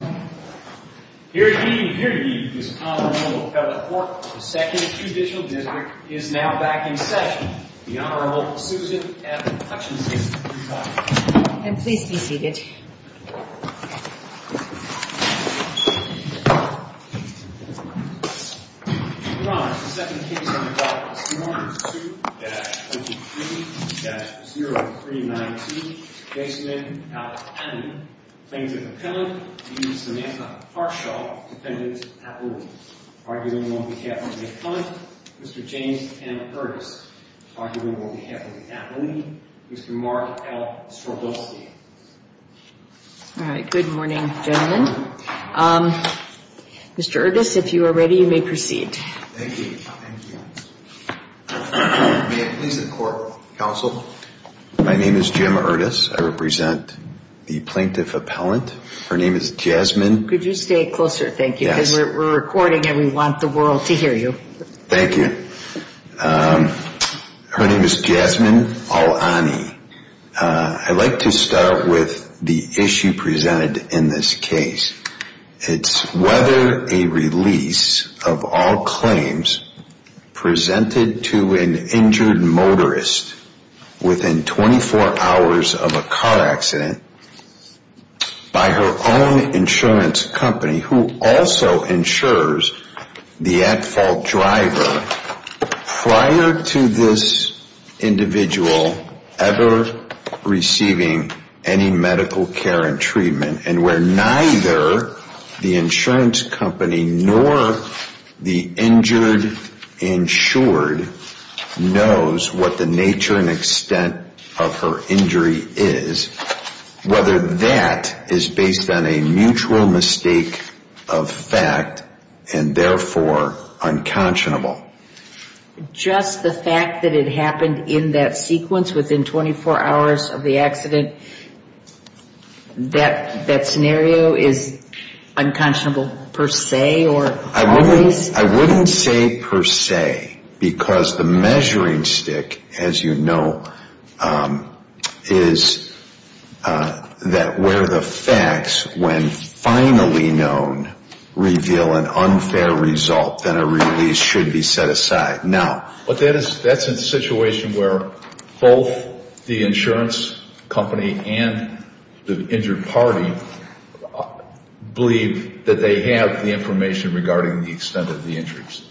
Here to give you this honorable report of the 2nd Judicial District is now back in session, the Honorable Susan F. Hutchinson, Utah. And please be seated. Your Honor, the second case on the docket is Summary 2-53-0392, Basement, Al-Amin. Claims of Appellant, v. Samantha Harshaw, Defendant's Appellant. Arguing on behalf of the Appellant, Mr. James M. Erdes. Arguing on behalf of the Appellant, Mr. Mark L. Strodowski. All right, good morning, gentlemen. Mr. Erdes, if you are ready, you may proceed. Thank you. May it please the Court, Counsel? My name is Jim Erdes. I represent the Plaintiff Appellant. Her name is Jasmine. Could you stay closer, thank you? Because we're recording and we want the world to hear you. Thank you. Her name is Jasmine Al-Amin. I'd like to start with the issue presented in this case. It's whether a release of all claims presented to an injured motorist within 24 hours of a car accident by her own insurance company, who also insures the at-fault driver prior to this individual ever receiving any medical care and treatment, and where neither the insurance company nor the injured insured knows what the nature and extent of her injury is, whether that is based on a mutual mistake of fact and therefore unconscionable. Just the fact that it happened in that sequence within 24 hours of the accident, that scenario is unconscionable per se or always? I wouldn't say per se because the measuring stick, as you know, is that where the facts, when finally known, reveal an unfair result, then a release should be set aside. But that's a situation where both the insurance company and the injured party believe that they have the information regarding the extent of the injuries.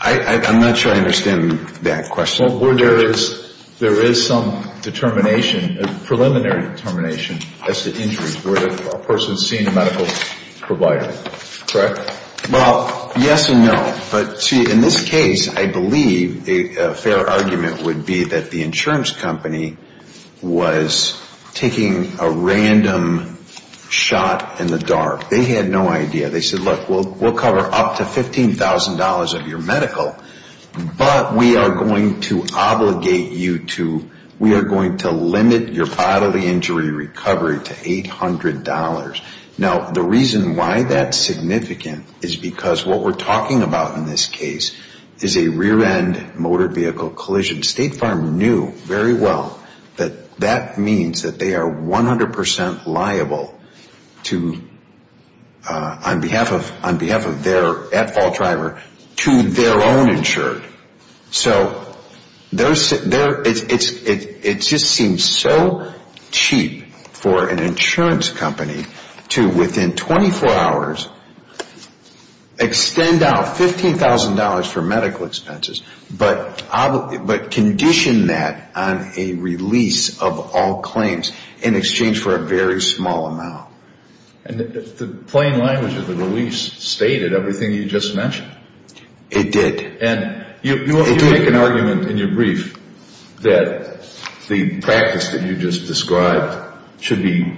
I'm not sure I understand that question. Well, where there is some determination, preliminary determination as to injuries, where a person is seeing a medical provider, correct? Well, yes and no. But see, in this case, I believe a fair argument would be that the insurance company was taking a random shot in the dark. They had no idea. They said, look, we'll cover up to $15,000 of your medical, but we are going to obligate you to, we are going to limit your bodily injury recovery to $800. Now, the reason why that's significant is because what we're talking about in this case is a rear-end motor vehicle collision. State Farm knew very well that that means that they are 100% liable to, on behalf of their at-fault driver, to their own insured. So it just seems so cheap for an insurance company to, within 24 hours, extend out $15,000 for medical expenses, but condition that on a release of all claims in exchange for a very small amount. And the plain language of the release stated everything you just mentioned. It did. And you make an argument in your brief that the practice that you just described should be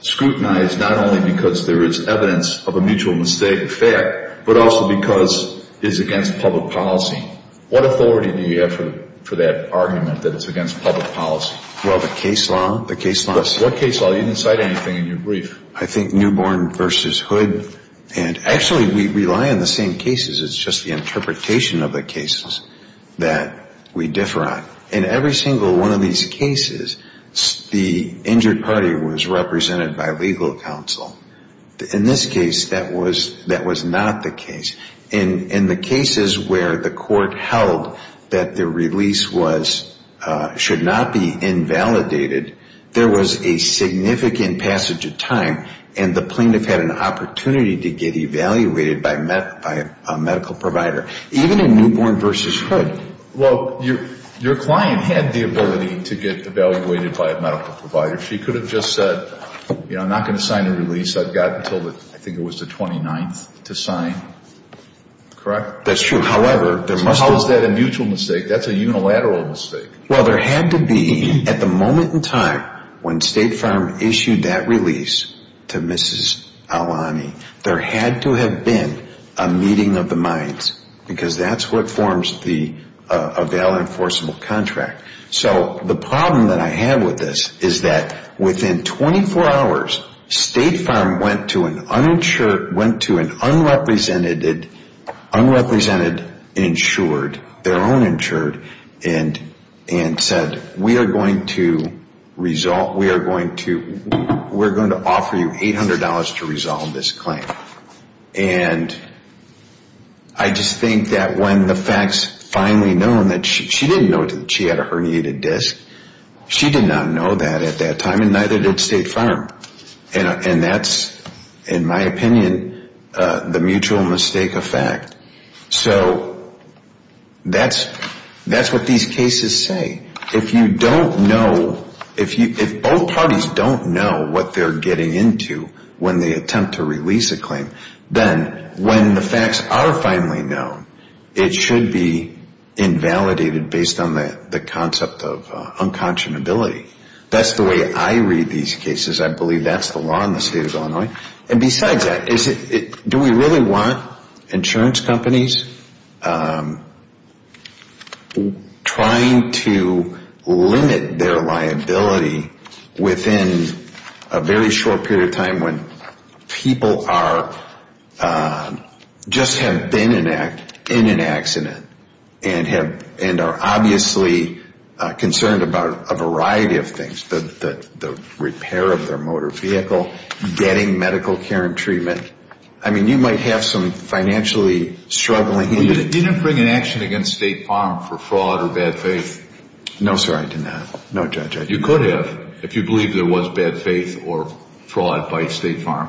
scrutinized not only because there is evidence of a mutual mistake of fact, but also because it is against public policy. What authority do you have for that argument that it's against public policy? Well, the case law. The case law. What case law? You didn't cite anything in your brief. I think Newborn v. Hood. And actually, we rely on the same cases. It's just the interpretation of the cases that we differ on. In every single one of these cases, the injured party was represented by legal counsel. In this case, that was not the case. In the cases where the court held that the release should not be invalidated, there was a significant passage of time and the plaintiff had an opportunity to get evaluated by a medical provider. Even in Newborn v. Hood. Well, your client had the ability to get evaluated by a medical provider. She could have just said, you know, I'm not going to sign a release. I've got until I think it was the 29th to sign. Correct? That's true. How is that a mutual mistake? That's a unilateral mistake. Well, there had to be at the moment in time when State Farm issued that release to Mrs. Aulani, there had to have been a meeting of the minds because that's what forms a valid enforceable contract. So the problem that I have with this is that within 24 hours, State Farm went to an unrepresented insured, their own insured, and said, we are going to offer you $800 to resolve this claim. And I just think that when the facts finally known that she didn't know she had a herniated disc, she did not know that at that time and neither did State Farm. And that's, in my opinion, the mutual mistake of fact. So that's what these cases say. If you don't know, if both parties don't know what they're getting into when they attempt to release a claim, then when the facts are finally known, it should be invalidated based on the concept of unconscionability. That's the way I read these cases. I believe that's the law in the State of Illinois. And besides that, do we really want insurance companies trying to limit their liability within a very short period of time when people just have been in an accident and are obviously concerned about a variety of things? The repair of their motor vehicle, getting medical care and treatment. I mean, you might have some financially struggling. You didn't bring an action against State Farm for fraud or bad faith. No, sir, I did not. No, Judge, I didn't. You could have if you believe there was bad faith or fraud by State Farm.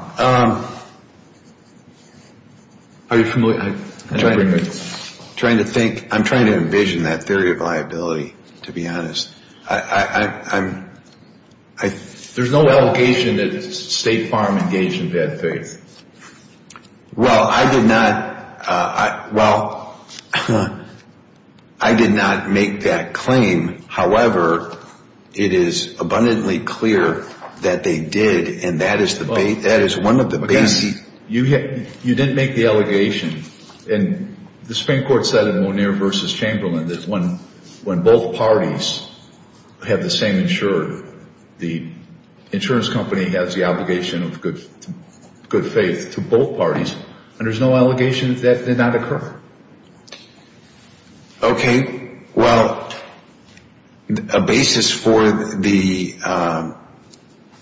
Are you familiar? I'm trying to envision that theory of liability, to be honest. There's no allegation that State Farm engaged in bad faith. Well, I did not. Well, I did not make that claim. However, it is abundantly clear that they did, and that is one of the basic. You didn't make the allegation. And the Supreme Court said in Moneer v. Chamberlain that when both parties have the same insurer, the insurance company has the obligation of good faith to both parties, and there's no allegation that did not occur. Okay, well, a basis for the,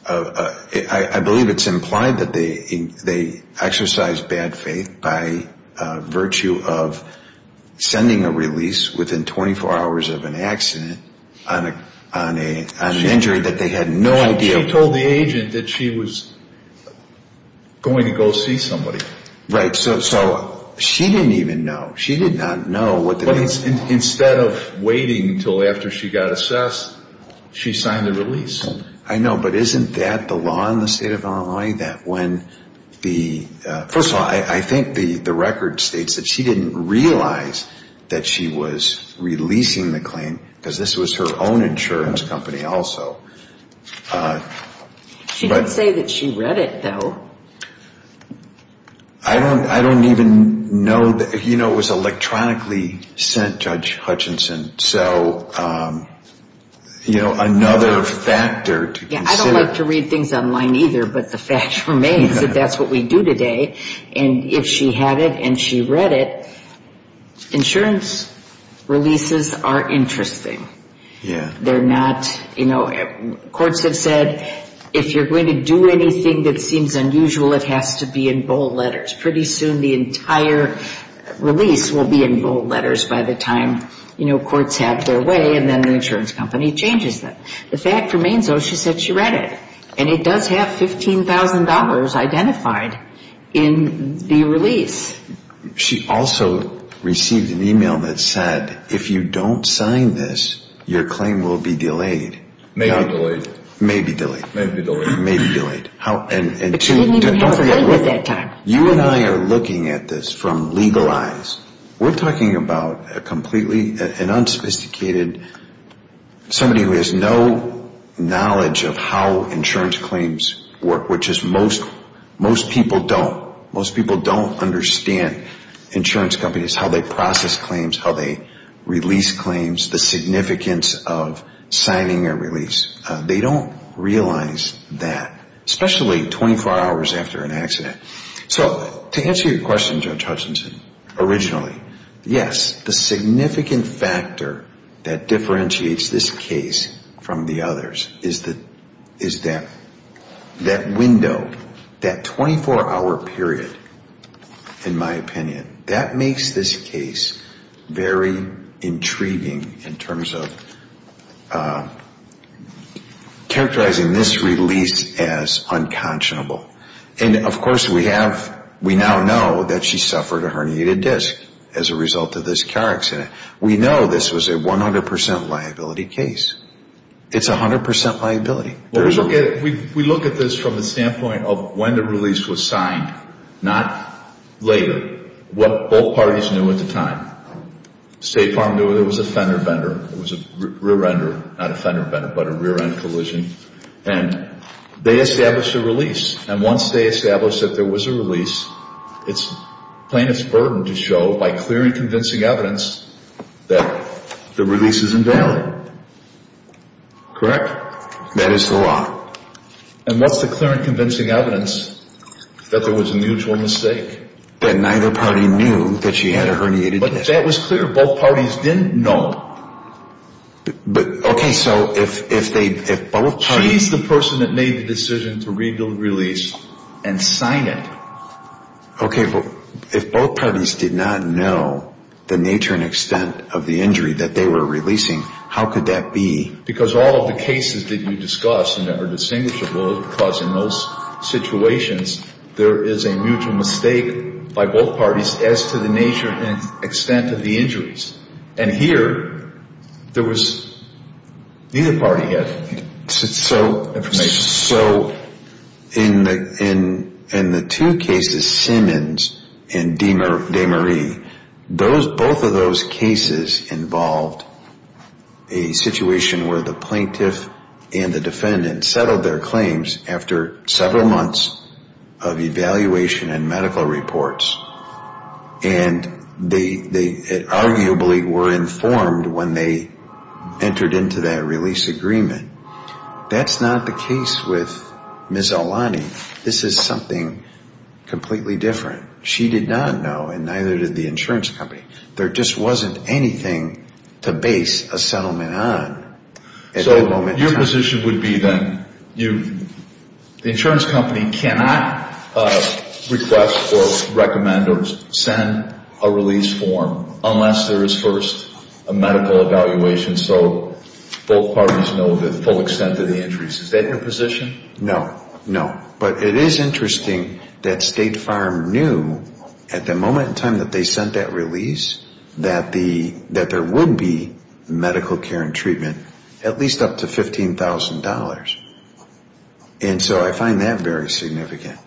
I believe it's implied that they exercised bad faith by virtue of sending a release within 24 hours of an accident on an injury that they had no idea. She told the agent that she was going to go see somebody. Right, so she didn't even know. She did not know. Instead of waiting until after she got assessed, she signed the release. I know, but isn't that the law in the state of Illinois that when the, first of all, I think the record states that she didn't realize that she was releasing the claim because this was her own insurance company also. She did say that she read it, though. I don't even know, you know, it was electronically sent, Judge Hutchinson, so, you know, another factor to consider. I don't like to read things online either, but the fact remains that that's what we do today, and if she had it and she read it, insurance releases are interesting. Yeah. They're not, you know, courts have said if you're going to do anything that seems unusual, it has to be in bold letters. Pretty soon the entire release will be in bold letters by the time, you know, courts have their way and then the insurance company changes them. The fact remains, though, she said she read it, and it does have $15,000 identified in the release. She also received an email that said if you don't sign this, your claim will be delayed. May be delayed. May be delayed. May be delayed. May be delayed. But she didn't even have to wait with that time. You and I are looking at this from legal eyes. We're talking about a completely unsophisticated, somebody who has no knowledge of how insurance claims work, which is most people don't. Most people don't understand insurance companies, how they process claims, how they release claims, the significance of signing a release. They don't realize that, especially 24 hours after an accident. So to answer your question, Judge Hutchinson, originally, yes, the significant factor that differentiates this case from the others is that window, that 24-hour period, in my opinion, that makes this case very intriguing in terms of characterizing this release as unconscionable. And, of course, we now know that she suffered a herniated disc as a result of this car accident. We know this was a 100% liability case. It's 100% liability. We look at this from the standpoint of when the release was signed, not later, what both parties knew at the time. State Farm knew it was a fender bender. It was a rear-ender, not a fender bender, but a rear-end collision. And they established a release. And once they established that there was a release, it's plaintiff's burden to show by clear and convincing evidence that the release is invalid. Correct? That is the law. And what's the clear and convincing evidence that there was a mutual mistake? That neither party knew that she had a herniated disc. But that was clear. Both parties didn't know. But, okay, so if both parties... She's the person that made the decision to read the release and sign it. Okay, well, if both parties did not know the nature and extent of the injury that they were releasing, how could that be? Because all of the cases that you discussed are never distinguishable because in those situations, there is a mutual mistake by both parties as to the nature and extent of the injuries. And here, there was neither party had information. So in the two cases, Simmons and DeMarie, both of those cases involved a situation where the plaintiff and the defendant settled their claims after several months of evaluation and medical reports. And they arguably were informed when they entered into that release agreement. That's not the case with Ms. Aulani. This is something completely different. She did not know, and neither did the insurance company. There just wasn't anything to base a settlement on at that moment in time. So your position would be then, the insurance company cannot request or recommend or send a release form unless there is first a medical evaluation, so both parties know the full extent of the injuries. Is that your position? No, no. But it is interesting that State Farm knew at the moment in time that they sent that release that there would be medical care and treatment at least up to $15,000. And so I find that very significant.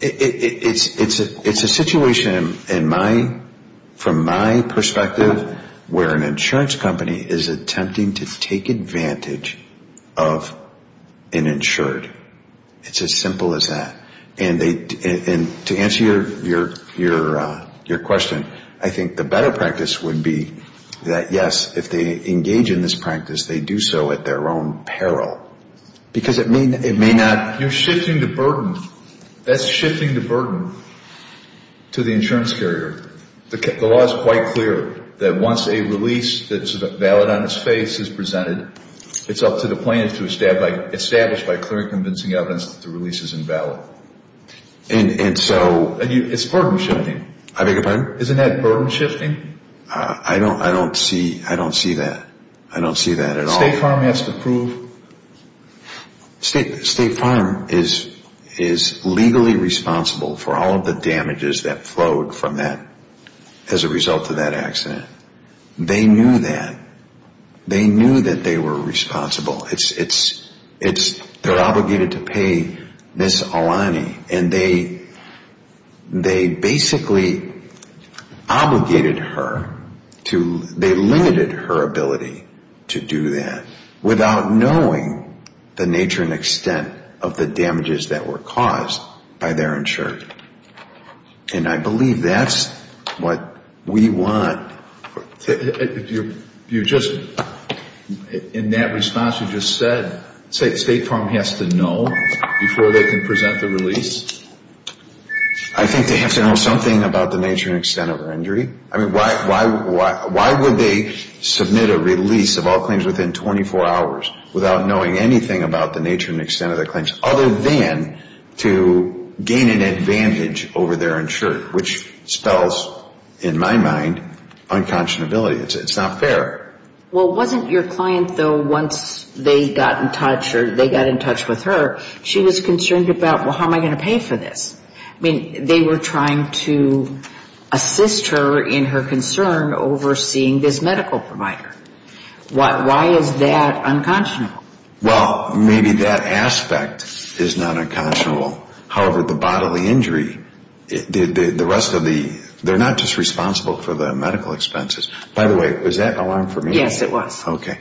It's a situation from my perspective where an insurance company is attempting to take advantage of an insured. It's as simple as that. And to answer your question, I think the better practice would be that, yes, if they engage in this practice, they do so at their own peril because it may not. You're shifting the burden. That's shifting the burden to the insurance carrier. The law is quite clear that once a release that's valid on its face is presented, it's up to the plaintiff to establish by clear and convincing evidence that the release is invalid. It's burden shifting. I beg your pardon? Isn't that burden shifting? I don't see that. I don't see that at all. State Farm has to prove. State Farm is legally responsible for all of the damages that flowed from that as a result of that accident. They knew that. They knew that they were responsible. They're obligated to pay Ms. Alani, and they basically obligated her to, they limited her ability to do that without knowing the nature and extent of the damages that were caused by their insurer. And I believe that's what we want. You just, in that response you just said, State Farm has to know before they can present the release? I think they have to know something about the nature and extent of her injury. I mean, why would they submit a release of all claims within 24 hours without knowing anything about the nature and extent of their claims other than to gain an advantage over their insurer, which spells, in my mind, unconscionability. It's not fair. Well, wasn't your client, though, once they got in touch or they got in touch with her, she was concerned about, well, how am I going to pay for this? I mean, they were trying to assist her in her concern over seeing this medical provider. Why is that unconscionable? Well, maybe that aspect is not unconscionable. However, the bodily injury, the rest of the, they're not just responsible for the medical expenses. By the way, was that an alarm for me? Yes, it was. Okay.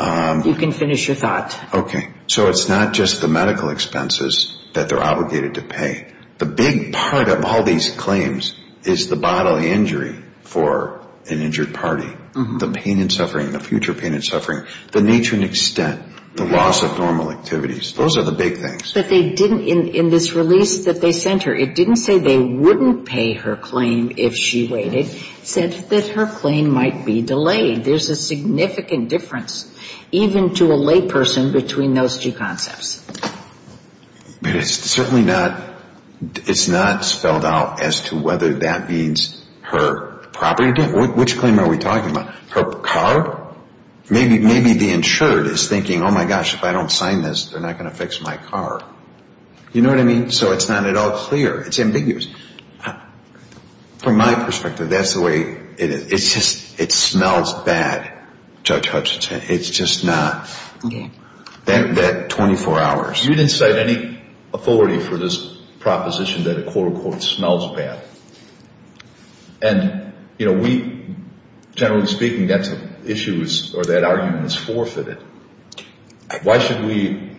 You can finish your thought. Okay. So it's not just the medical expenses that they're obligated to pay. The big part of all these claims is the bodily injury for an injured party, the pain and suffering, the future pain and suffering, the nature and extent, the loss of normal activities. Those are the big things. But they didn't, in this release that they sent her, it didn't say they wouldn't pay her claim if she waited. It said that her claim might be delayed. There's a significant difference, even to a layperson, between those two concepts. But it's certainly not, it's not spelled out as to whether that means her property. Which claim are we talking about? Her car? Maybe the insured is thinking, oh, my gosh, if I don't sign this, they're not going to fix my car. You know what I mean? So it's not at all clear. It's ambiguous. From my perspective, that's the way it is. It's just, it smells bad. It's just not. That 24 hours. You didn't cite any authority for this proposition that it, quote, unquote, smells bad. And, you know, we, generally speaking, that's an issue or that argument is forfeited. Why should we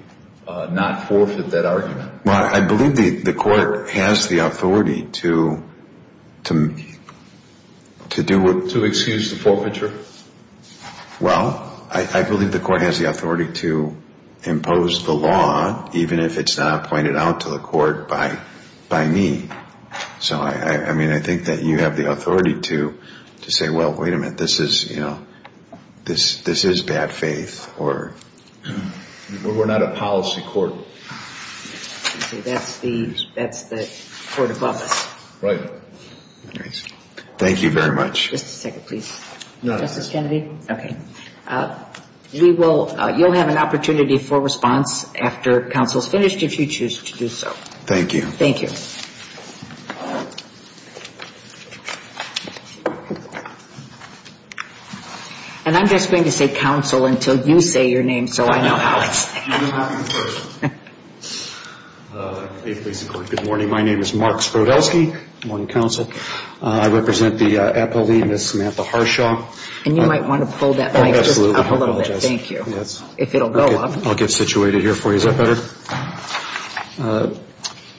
not forfeit that argument? Well, I believe the court has the authority to do what? To excuse the forfeiture? Well, I believe the court has the authority to impose the law, even if it's not pointed out to the court by me. So, I mean, I think that you have the authority to say, well, wait a minute, this is, you know, this is bad faith. We're not a policy court. That's the court above us. Right. Thank you very much. Just a second, please. Justice Kennedy? Okay. You'll have an opportunity for response after counsel is finished if you choose to do so. Thank you. Thank you. And I'm just going to say counsel until you say your name so I know how it's handled. Good morning. My name is Mark Sprodelsky. Good morning, counsel. I represent the appellee, Ms. Samantha Harshaw. And you might want to pull that mic just up a little bit. Thank you. If it will go up. I'll get situated here for you. Is that better?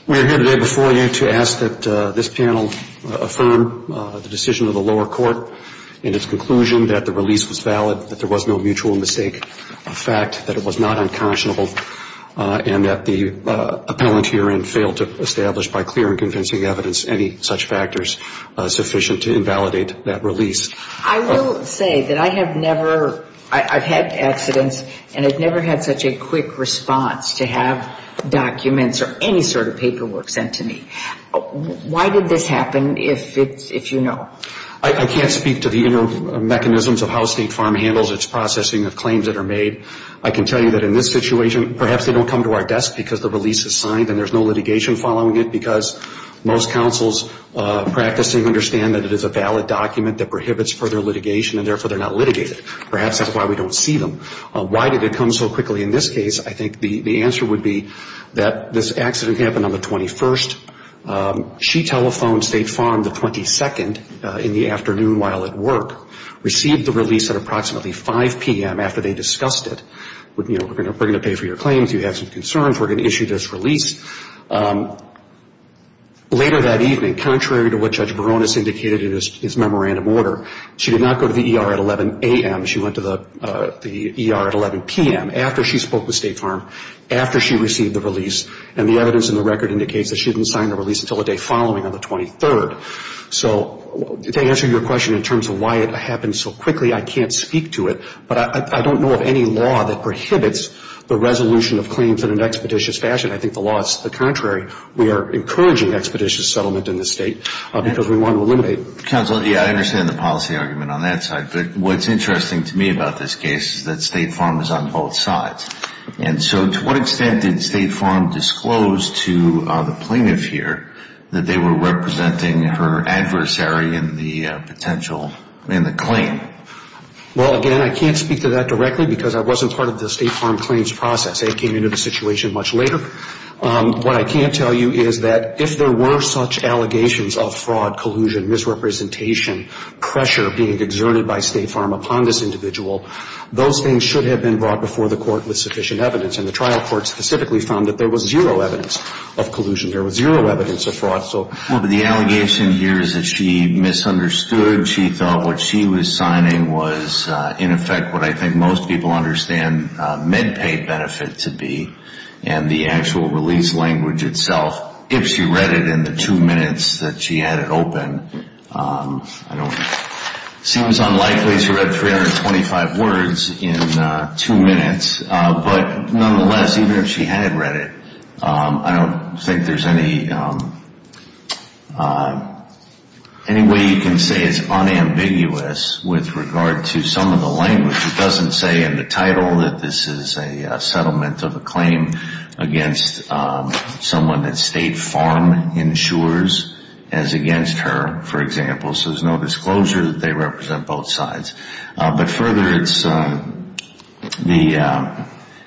We are here today before you to ask that this panel affirm the decision of the lower court in its conclusion that the release was valid, that there was no mutual mistake, a fact that it was not unconscionable, and that the appellant herein failed to establish by clear and convincing evidence any such factors sufficient to invalidate that release. I will say that I have never, I've had accidents, and I've never had such a quick response to have documents or any sort of paperwork sent to me. Why did this happen, if you know? I can't speak to the inner mechanisms of how State Farm handles its processing of claims that are made. I can tell you that in this situation, perhaps they don't come to our desk because the release is signed and there's no litigation following it because most counsels practicing understand that it is a valid document that prohibits further litigation, and therefore they're not litigated. Perhaps that's why we don't see them. Why did it come so quickly in this case? I think the answer would be that this accident happened on the 21st. She telephoned State Farm the 22nd in the afternoon while at work, received the release at approximately 5 p.m. after they discussed it. We're going to pay for your claims. You have some concerns. We're going to issue this release. Later that evening, contrary to what Judge Baronis indicated in his memorandum order, she did not go to the ER at 11 a.m. She went to the ER at 11 p.m. after she spoke with State Farm, after she received the release, and the evidence in the record indicates that she didn't sign the release until the day following on the 23rd. So to answer your question in terms of why it happened so quickly, I can't speak to it, but I don't know of any law that prohibits the resolution of claims in an expeditious fashion. I think the law is the contrary. We are encouraging expeditious settlement in this State because we want to eliminate it. Counsel, yeah, I understand the policy argument on that side, but what's interesting to me about this case is that State Farm is on both sides. And so to what extent did State Farm disclose to the plaintiff here that they were representing her adversary in the claim? Well, again, I can't speak to that directly because I wasn't part of the State Farm claims process. It came into the situation much later. What I can tell you is that if there were such allegations of fraud, collusion, misrepresentation, pressure being exerted by State Farm upon this individual, those things should have been brought before the court with sufficient evidence. And the trial court specifically found that there was zero evidence of collusion. There was zero evidence of fraud. Well, but the allegation here is that she misunderstood. She thought what she was signing was, in effect, what I think most people understand MedPay benefit to be. And the actual release language itself, if she read it in the two minutes that she had it open, it seems unlikely she read 325 words in two minutes. But nonetheless, even if she had read it, I don't think there's any way you can say it's unambiguous with regard to some of the language. It doesn't say in the title that this is a settlement of a claim against someone that State Farm insures as against her, for example. So there's no disclosure that they represent both sides. But further, the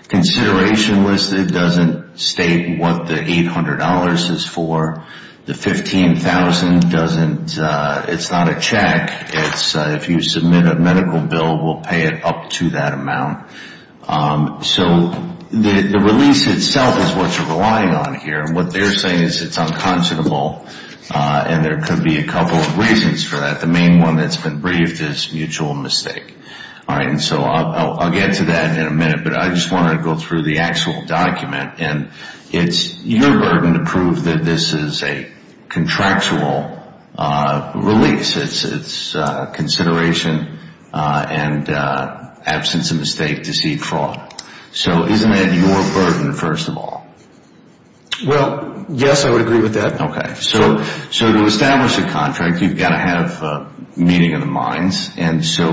consideration listed doesn't state what the $800 is for. The $15,000 doesn't. It's not a check. If you submit a medical bill, we'll pay it up to that amount. So the release itself is what you're relying on here. And what they're saying is it's unconscionable. And there could be a couple of reasons for that. The main one that's been briefed is mutual mistake. All right. And so I'll get to that in a minute. But I just wanted to go through the actual document. And it's your burden to prove that this is a contractual release. It's consideration and absence of mistake, deceit, fraud. So isn't that your burden, first of all? Well, yes, I would agree with that. Okay. So to establish a contract, you've got to have meaning in the minds. And so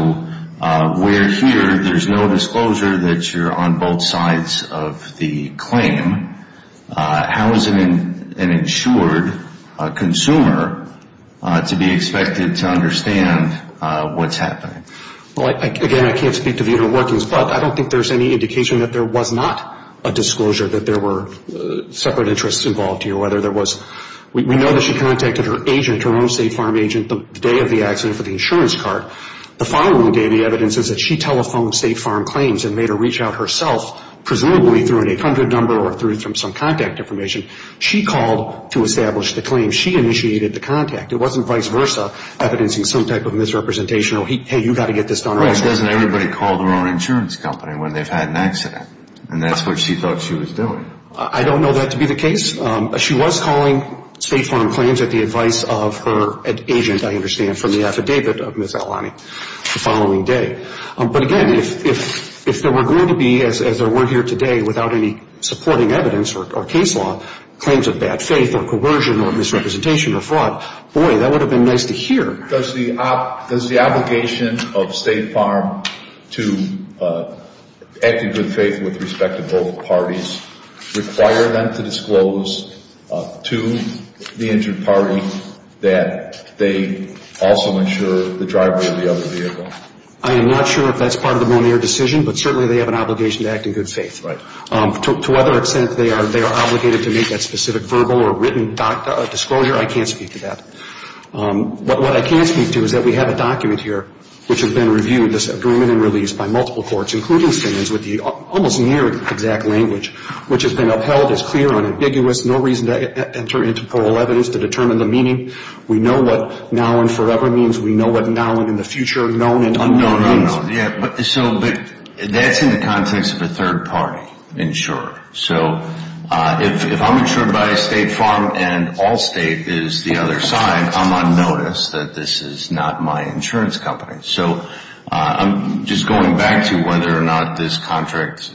we're here. There's no disclosure that you're on both sides of the claim. How is an insured consumer to be expected to understand what's happening? Well, again, I can't speak to the inner workings. But I don't think there's any indication that there was not a disclosure, that there were separate interests involved here, whether there was. We know that she contacted her agent, her own State Farm agent, the day of the accident for the insurance card. The following day, the evidence is that she telephoned State Farm Claims and made her reach out herself, presumably through an 800 number or through some contact information. She called to establish the claim. She initiated the contact. It wasn't vice versa, evidencing some type of misrepresentation. Oh, hey, you've got to get this done right. Right. Doesn't everybody call their own insurance company when they've had an accident? And that's what she thought she was doing. I don't know that to be the case. She was calling State Farm Claims at the advice of her agent, I understand, from the affidavit of Ms. Alani the following day. But, again, if there were going to be, as there were here today, without any supporting evidence or case law, claims of bad faith or coercion or misrepresentation or fraud, boy, that would have been nice to hear. Does the obligation of State Farm to act in good faith with respect to both parties require them to disclose to the injured party that they also insure the driver of the other vehicle? I am not sure if that's part of the Monier decision, but certainly they have an obligation to act in good faith. To what extent they are obligated to make that specific verbal or written disclosure, I can't speak to that. But what I can speak to is that we have a document here which has been reviewed, this agreement and release, by multiple courts, including Simmons with the almost near exact language, which has been upheld as clear and ambiguous, no reason to enter into parallel evidence to determine the meaning. We know what now and forever means. We know what now and in the future are known and unknown means. So that's in the context of a third party insurer. So if I'm insured by State Farm and Allstate is the other side, I'm on notice that this is not my insurance company. So I'm just going back to whether or not this contract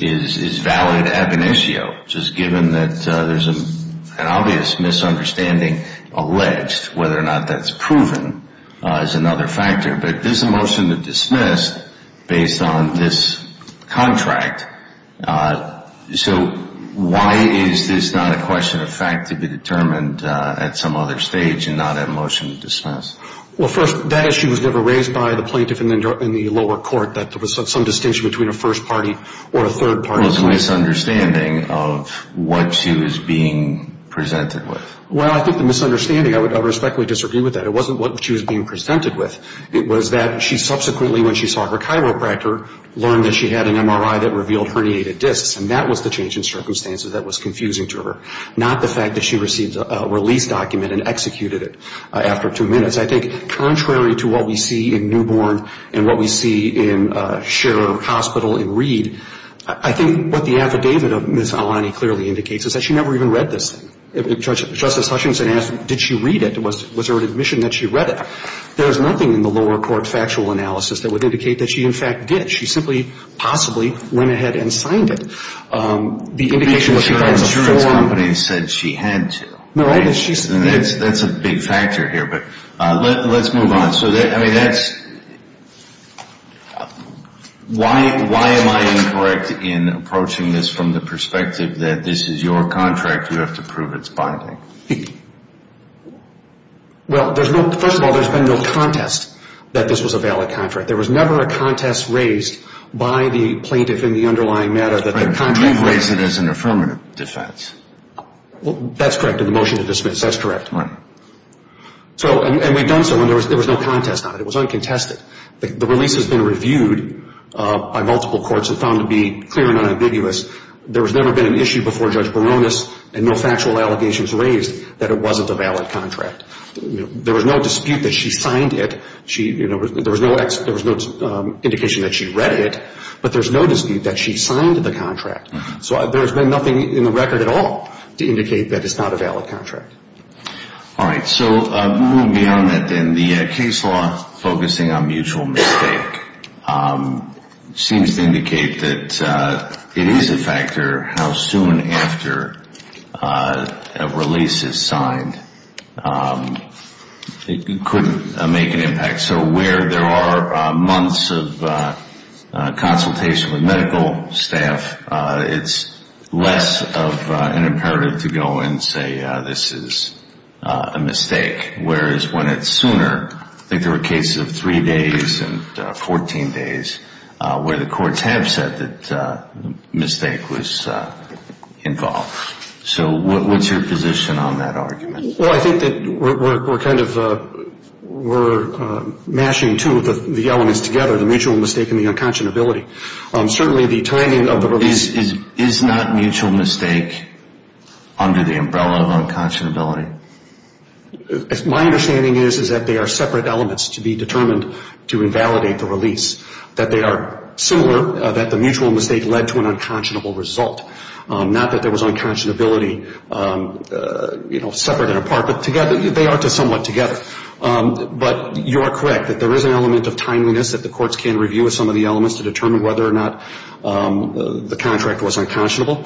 is valid ab initio, just given that there's an obvious misunderstanding alleged, whether or not that's proven is another factor. But this is a motion to dismiss based on this contract. So why is this not a question of fact to be determined at some other stage and not a motion to dismiss? Well, first, that issue was never raised by the plaintiff in the lower court, that there was some distinction between a first party or a third party. What was the misunderstanding of what she was being presented with? Well, I think the misunderstanding, I would respectfully disagree with that. It wasn't what she was being presented with. It was that she subsequently, when she saw her chiropractor, learned that she had an MRI that revealed herniated discs, and that was the change in circumstances that was confusing to her, not the fact that she received a release document and executed it after two minutes. I think contrary to what we see in newborn and what we see in Sherer Hospital in Reed, I think what the affidavit of Ms. Alani clearly indicates is that she never even read this. Justice Hutchinson asked, did she read it? Was there an admission that she read it? There is nothing in the lower court factual analysis that would indicate that she, in fact, did. She simply possibly went ahead and signed it. The indication was that she had a form. But your insurance company said she had to. No, I didn't. That's a big factor here, but let's move on. Why am I incorrect in approaching this from the perspective that this is your contract, you have to prove its binding? First of all, there's been no contest that this was a valid contract. There was never a contest raised by the plaintiff in the underlying matter. You raised it as an affirmative defense. That's correct in the motion to dismiss. That's correct. And we've done so, and there was no contest on it. It was uncontested. The release has been reviewed by multiple courts and found to be clear and unambiguous. There has never been an issue before Judge Baronis and no factual allegations raised that it wasn't a valid contract. There was no dispute that she signed it. There was no indication that she read it, but there's no dispute that she signed the contract. So there's been nothing in the record at all to indicate that it's not a valid contract. All right, so moving beyond that then, the case law focusing on mutual mistake seems to indicate that it is a factor how soon after a release is signed. It could make an impact. So where there are months of consultation with medical staff, it's less of an imperative to go and say this is a mistake, whereas when it's sooner, I think there were cases of three days and 14 days where the courts have said that the mistake was involved. So what's your position on that argument? Well, I think that we're kind of mashing two of the elements together, the mutual mistake and the unconscionability. Certainly the timing of the release is... Is not mutual mistake under the umbrella of unconscionability? My understanding is that they are separate elements to be determined to invalidate the release, that they are similar, that the mutual mistake led to an unconscionable result, not that there was unconscionability, you know, separate and apart, but together. They are somewhat together. But you are correct that there is an element of timeliness that the courts can review with some of the elements to determine whether or not the contract was unconscionable.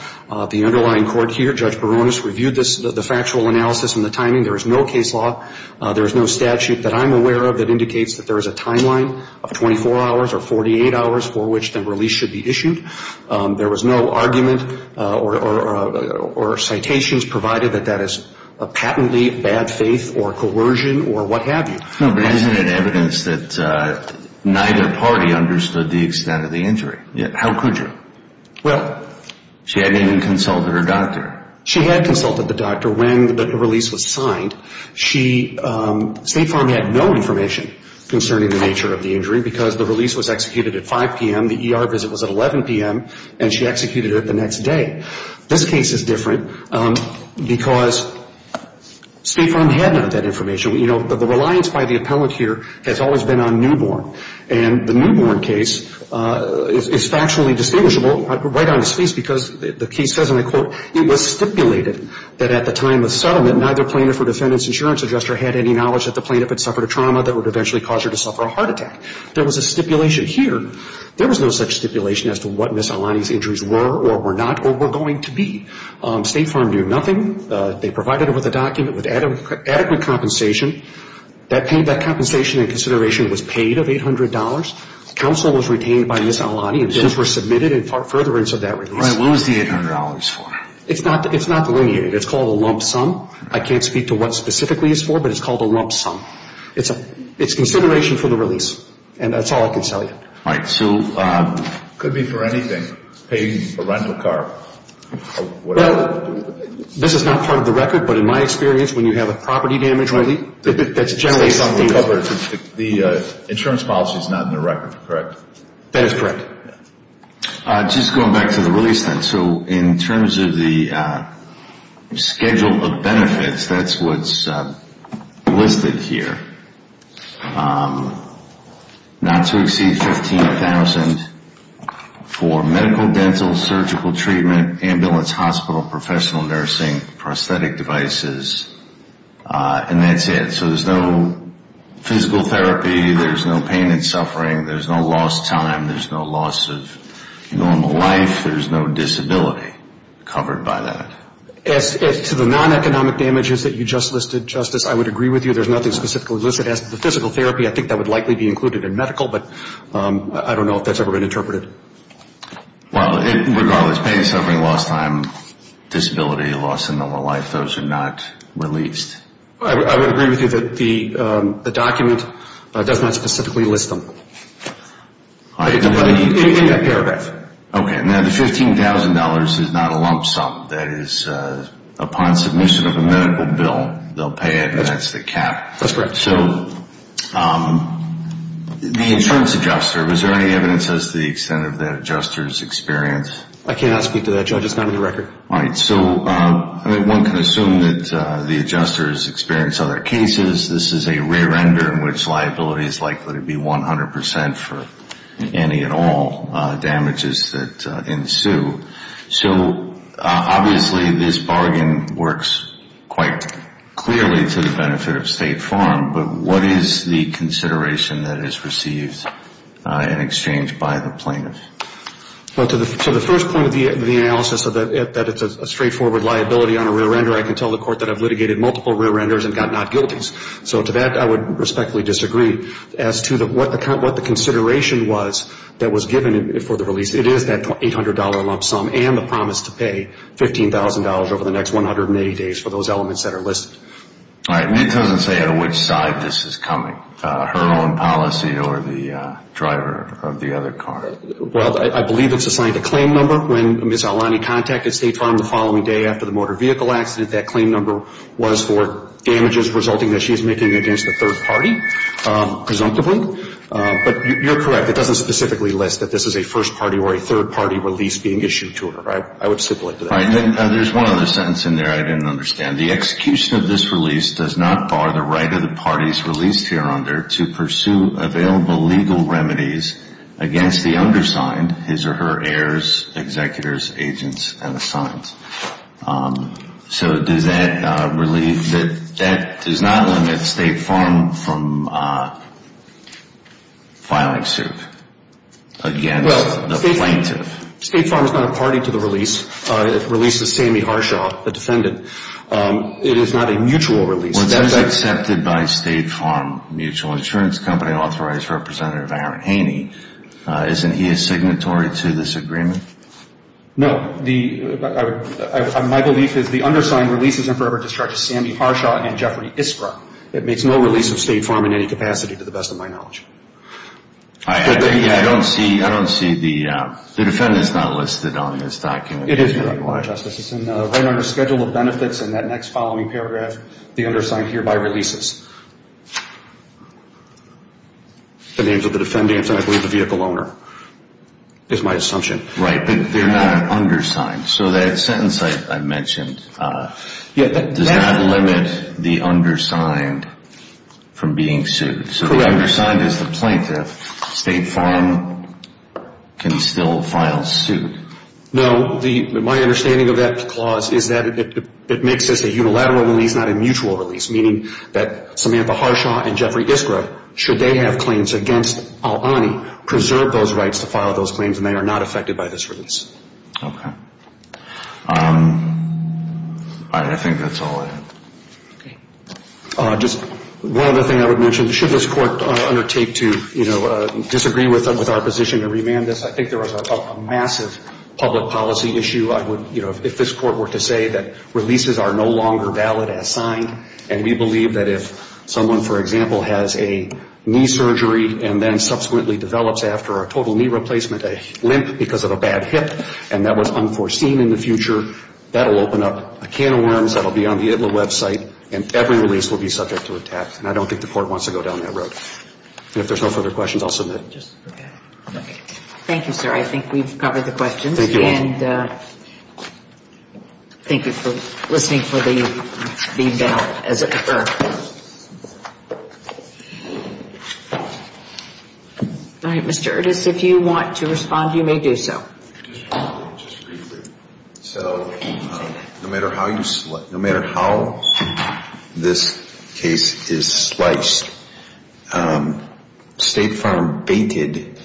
The underlying court here, Judge Barones, reviewed the factual analysis and the timing. There is no case law. There is no statute that I'm aware of that indicates that there is a timeline of 24 hours or 48 hours for which the release should be issued. There was no argument or citations provided that that is a patently bad faith or coercion or what have you. No, but isn't it evidence that neither party understood the extent of the injury? How could you? Well... She hadn't even consulted her doctor. She had consulted the doctor when the release was signed. State Farm had no information concerning the nature of the injury because the release was executed at 5 p.m., the E.R. visit was at 11 p.m., and she executed it the next day. This case is different because State Farm had none of that information. You know, the reliance by the appellant here has always been on Newborn. And the Newborn case is factually distinguishable right down to space because the case says, and I quote, it was stipulated that at the time of settlement, neither plaintiff or defendant's insurance adjuster had any knowledge that the plaintiff had suffered a trauma that would eventually cause her to suffer a heart attack. There was a stipulation here. There was no such stipulation as to what Ms. Aulani's injuries were or were not or were going to be. State Farm knew nothing. They provided her with a document with adequate compensation. That compensation in consideration was paid of $800. Counsel was retained by Ms. Aulani and bills were submitted in furtherance of that release. All right. What was the $800 for? It's not delineated. It's called a lump sum. I can't speak to what specifically it's for, but it's called a lump sum. It's consideration for the release, and that's all I can tell you. All right. So it could be for anything, paying for a rental car or whatever. Well, this is not part of the record, but in my experience, when you have a property damage release, that's generally something that's covered. The insurance policy is not in the record, correct? That is correct. Just going back to the release then. So in terms of the schedule of benefits, that's what's listed here. Not to exceed $15,000 for medical, dental, surgical treatment, ambulance, hospital, professional nursing, prosthetic devices, and that's it. So there's no physical therapy. There's no pain and suffering. There's no lost time. There's no loss of normal life. There's no disability covered by that. As to the non-economic damages that you just listed, Justice, I would agree with you. There's nothing specifically listed. As to the physical therapy, I think that would likely be included in medical, but I don't know if that's ever been interpreted. Well, regardless, pain, suffering, lost time, disability, loss of normal life, those are not released. I would agree with you that the document does not specifically list them in that paragraph. Okay. Now, the $15,000 is not a lump sum. That is, upon submission of a medical bill, they'll pay it, and that's the cap. That's correct. So the insurance adjuster, was there any evidence as to the extent of that adjuster's experience? I cannot speak to that, Judge. It's not in the record. All right. So one can assume that the adjuster has experienced other cases. This is a rear-ender in which liability is likely to be 100% for any and all damages that ensue. So obviously this bargain works quite clearly to the benefit of State Farm, but what is the consideration that is received in exchange by the plaintiff? Well, to the first point of the analysis, that it's a straightforward liability on a rear-ender, I can tell the court that I've litigated multiple rear-enders and got not guilties. So to that, I would respectfully disagree as to what the consideration was that was given for the release. It is that $800 lump sum and the promise to pay $15,000 over the next 180 days for those elements that are listed. All right. And it doesn't say on which side this is coming, her own policy or the driver of the other car. Well, I believe it's assigned a claim number. When Ms. Aulani contacted State Farm the following day after the motor vehicle accident, that claim number was for damages resulting that she's making against a third party, presumptively. But you're correct. It doesn't specifically list that this is a first party or a third party release being issued to her. I would stipulate to that. All right. There's one other sentence in there I didn't understand. The execution of this release does not bar the right of the parties released here under to pursue available legal remedies against the undersigned, his or her heirs, executors, agents, and assigned. So does that relieve that that does not limit State Farm from filing suit against the plaintiff? State Farm is not a party to the release. The release is Sammy Harshaw, the defendant. It is not a mutual release. Well, that is accepted by State Farm Mutual Insurance Company authorized representative Aaron Haney. Isn't he a signatory to this agreement? No. My belief is the undersigned releases and forever discharges Sammy Harshaw and Jeffrey Iskra. It makes no release of State Farm in any capacity to the best of my knowledge. I don't see the defendant is not listed on this document. It is, Your Honor. Right under schedule of benefits in that next following paragraph, the undersigned hereby releases. The names of the defendants and I believe the vehicle owner is my assumption. Right. They're not undersigned. So that sentence I mentioned does not limit the undersigned from being sued. Correct. So the undersigned is the plaintiff. State Farm can still file suit. No. My understanding of that clause is that it makes this a unilateral release, not a mutual release, meaning that Samantha Harshaw and Jeffrey Iskra, should they have claims against Al-Ani, preserve those rights to file those claims and they are not affected by this release. Okay. I think that's all I have. Okay. Just one other thing I would mention. Should this court undertake to, you know, disagree with our position and remand this, I think there is a massive public policy issue. I would, you know, if this court were to say that releases are no longer valid as signed and we believe that if someone, for example, has a knee surgery and then subsequently develops after a total knee replacement a limp because of a bad hip and that was unforeseen in the future, that will open up a can of worms that will be on the ITLA website and every release will be subject to attack. And I don't think the court wants to go down that road. And if there's no further questions, I'll submit. Okay. Thank you, sir. I think we've covered the questions. And thank you for listening for the bell. All right. Mr. Erdis, if you want to respond, you may do so. So no matter how you select, no matter how this case is sliced, State Farm baited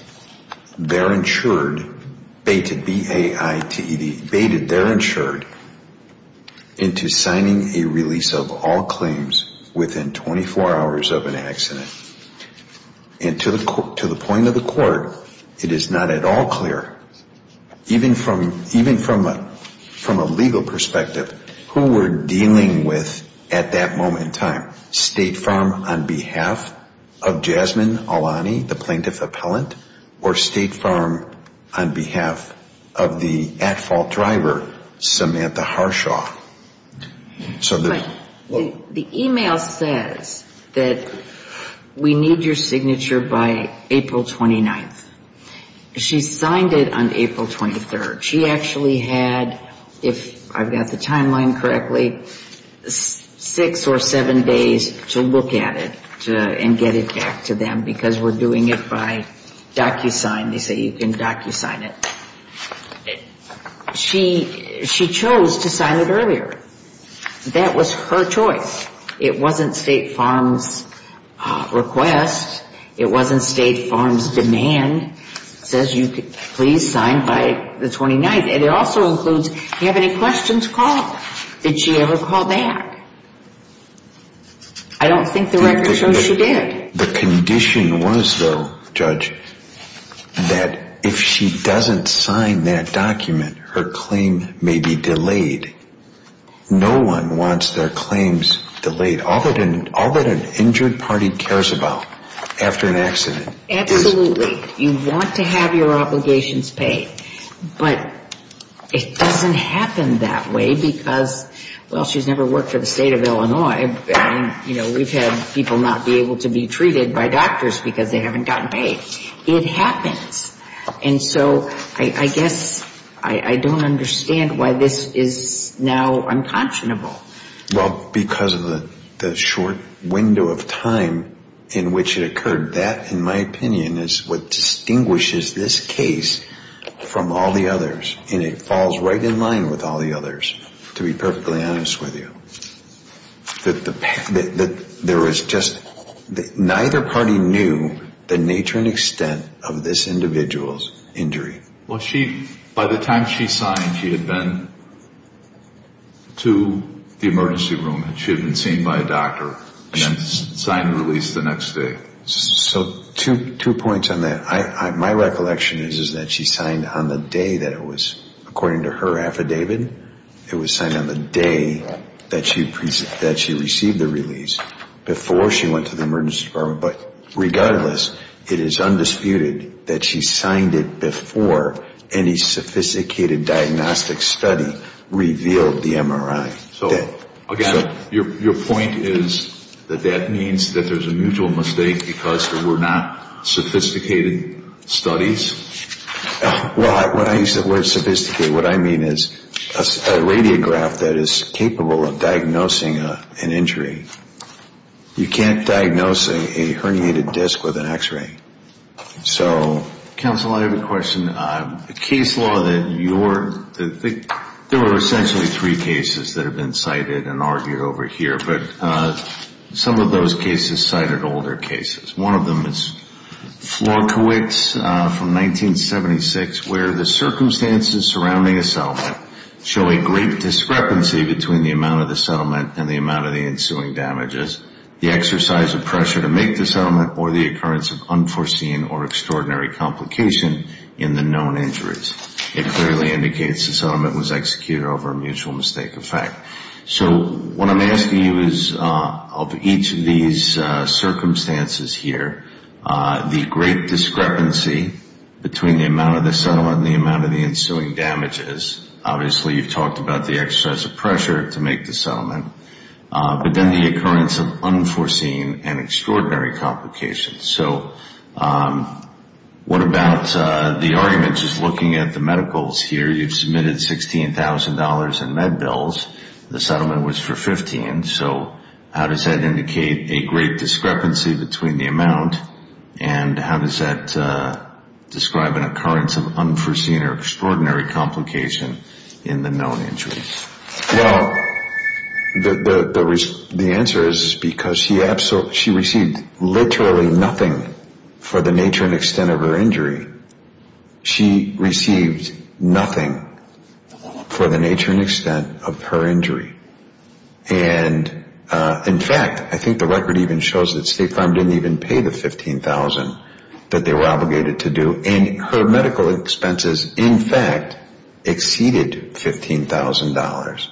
their insured, baited, B-A-I-T-E-D, baited their insured into signing a release of all claims within 24 hours of an accident. And to the point of the court, it is not at all clear, even from a legal perspective, who we're dealing with at that moment in time, State Farm on behalf of Jasmine Alani, the plaintiff appellant, or State Farm on behalf of the at-fault driver, Samantha Harshaw. The e-mail says that we need your signature by April 29th. She signed it on April 23rd. She actually had, if I've got the timeline correctly, six or seven days to look at it and get it back to them because we're doing it by DocuSign. They say you can DocuSign it. She chose to sign it earlier. That was her choice. It wasn't State Farm's request. It wasn't State Farm's demand. It says, please sign by the 29th. And it also includes, do you have any questions, call. Did she ever call back? I don't think the record shows she did. The condition was, though, Judge, that if she doesn't sign that document, her claim may be delayed. No one wants their claims delayed. All that an injured party cares about after an accident is Absolutely. You want to have your obligations paid. But it doesn't happen that way because, well, she's never worked for the State of Illinois. We've had people not be able to be treated by doctors because they haven't gotten paid. It happens. And so I guess I don't understand why this is now unconscionable. Well, because of the short window of time in which it occurred. That, in my opinion, is what distinguishes this case from all the others. And it falls right in line with all the others, to be perfectly honest with you. That there was just, neither party knew the nature and extent of this individual's injury. Well, she, by the time she signed, she had been to the emergency room. She had been seen by a doctor and then signed the release the next day. So two points on that. My recollection is that she signed on the day that it was, according to her affidavit, it was signed on the day that she received the release, before she went to the emergency department. But regardless, it is undisputed that she signed it before any sophisticated diagnostic study revealed the MRI. Okay. So, again, your point is that that means that there's a mutual mistake because there were not sophisticated studies? Well, when I use the word sophisticated, what I mean is a radiograph that is capable of diagnosing an injury. You can't diagnose a herniated disc with an X-ray. So, counsel, I have a question. The case law that you're, there were essentially three cases that have been cited and argued over here, but some of those cases cited older cases. One of them is Flonkiewicz from 1976, where the circumstances surrounding a settlement show a great discrepancy between the amount of the settlement and the amount of the ensuing damages. The exercise of pressure to make the settlement or the occurrence of unforeseen or extraordinary complication in the known injuries. It clearly indicates the settlement was executed over a mutual mistake effect. So, what I'm asking you is, of each of these circumstances here, the great discrepancy between the amount of the settlement and the amount of the ensuing damages. Obviously, you've talked about the exercise of pressure to make the settlement. But then the occurrence of unforeseen and extraordinary complications. So, what about the argument just looking at the medicals here? You've submitted $16,000 in med bills. The settlement was for $15,000. So, how does that indicate a great discrepancy between the amount and how does that describe an occurrence of unforeseen or extraordinary complication in the known injuries? Well, the answer is because she received literally nothing for the nature and extent of her injury. She received nothing for the nature and extent of her injury. And, in fact, I think the record even shows that State Farm didn't even pay the $15,000 that they were obligated to do. And her medical expenses, in fact, exceeded $15,000.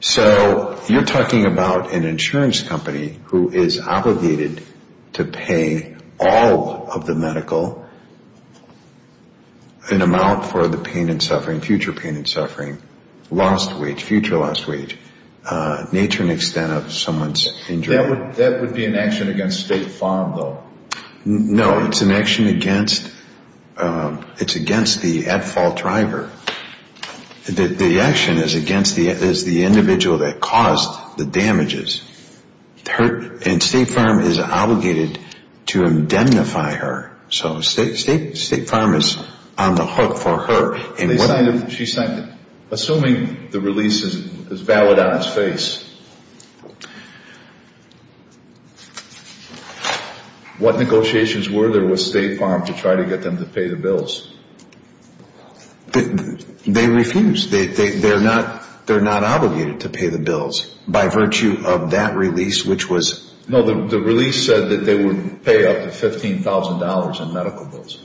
So, you're talking about an insurance company who is obligated to pay all of the medical, an amount for the pain and suffering, future pain and suffering, lost wage, future lost wage, nature and extent of someone's injury. That would be an action against State Farm, though. No, it's an action against the at-fault driver. The action is against the individual that caused the damages. And State Farm is obligated to indemnify her. So, State Farm is on the hook for her. Assuming the release is valid on its face, what negotiations were there with State Farm to try to get them to pay the bills? They refused. They're not obligated to pay the bills by virtue of that release, which was… No, the release said that they would pay up to $15,000 in medical bills.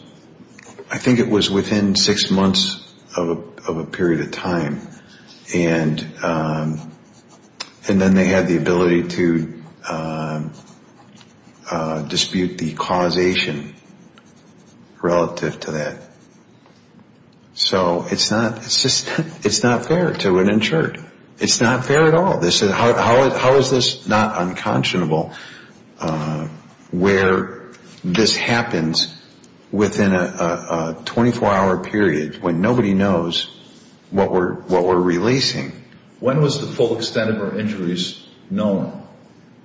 I think it was within six months of a period of time. And then they had the ability to dispute the causation relative to that. So, it's not fair to an insured. It's not fair at all. How is this not unconscionable where this happens within a 24-hour period when nobody knows what we're releasing? When was the full extent of her injuries known?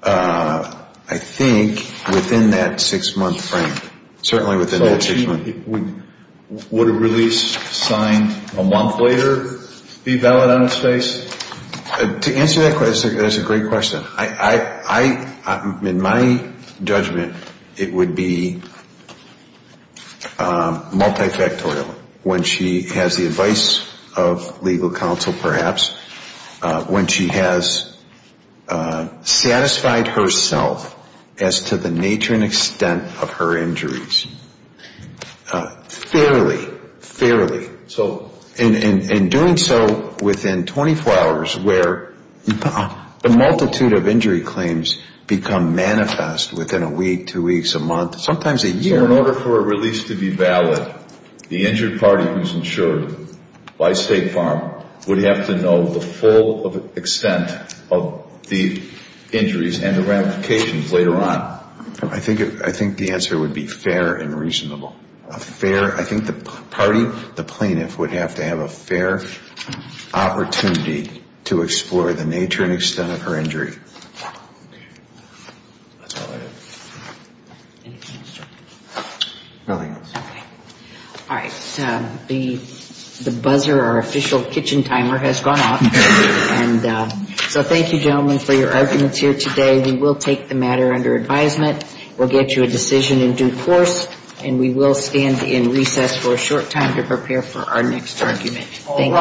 I think within that six-month frame. Certainly within that six months. Would a release signed a month later be valid on its face? To answer that question, that's a great question. In my judgment, it would be multifactorial. When she has the advice of legal counsel, perhaps. When she has satisfied herself as to the nature and extent of her injuries. Fairly. Fairly. In doing so within 24 hours where the multitude of injury claims become manifest within a week, two weeks, a month, sometimes a year. So, in order for a release to be valid, the injured party who's insured by State Farm would have to know the full extent of the injuries and the ramifications later on. I think the answer would be fair and reasonable. I think the party, the plaintiff, would have to have a fair opportunity to explore the nature and extent of her injury. All right. The buzzer, our official kitchen timer, has gone off. And so thank you, gentlemen, for your arguments here today. We will take the matter under advisement. We'll get you a decision in due course. And we will stand in recess for a short time to prepare for our next argument. Thank you.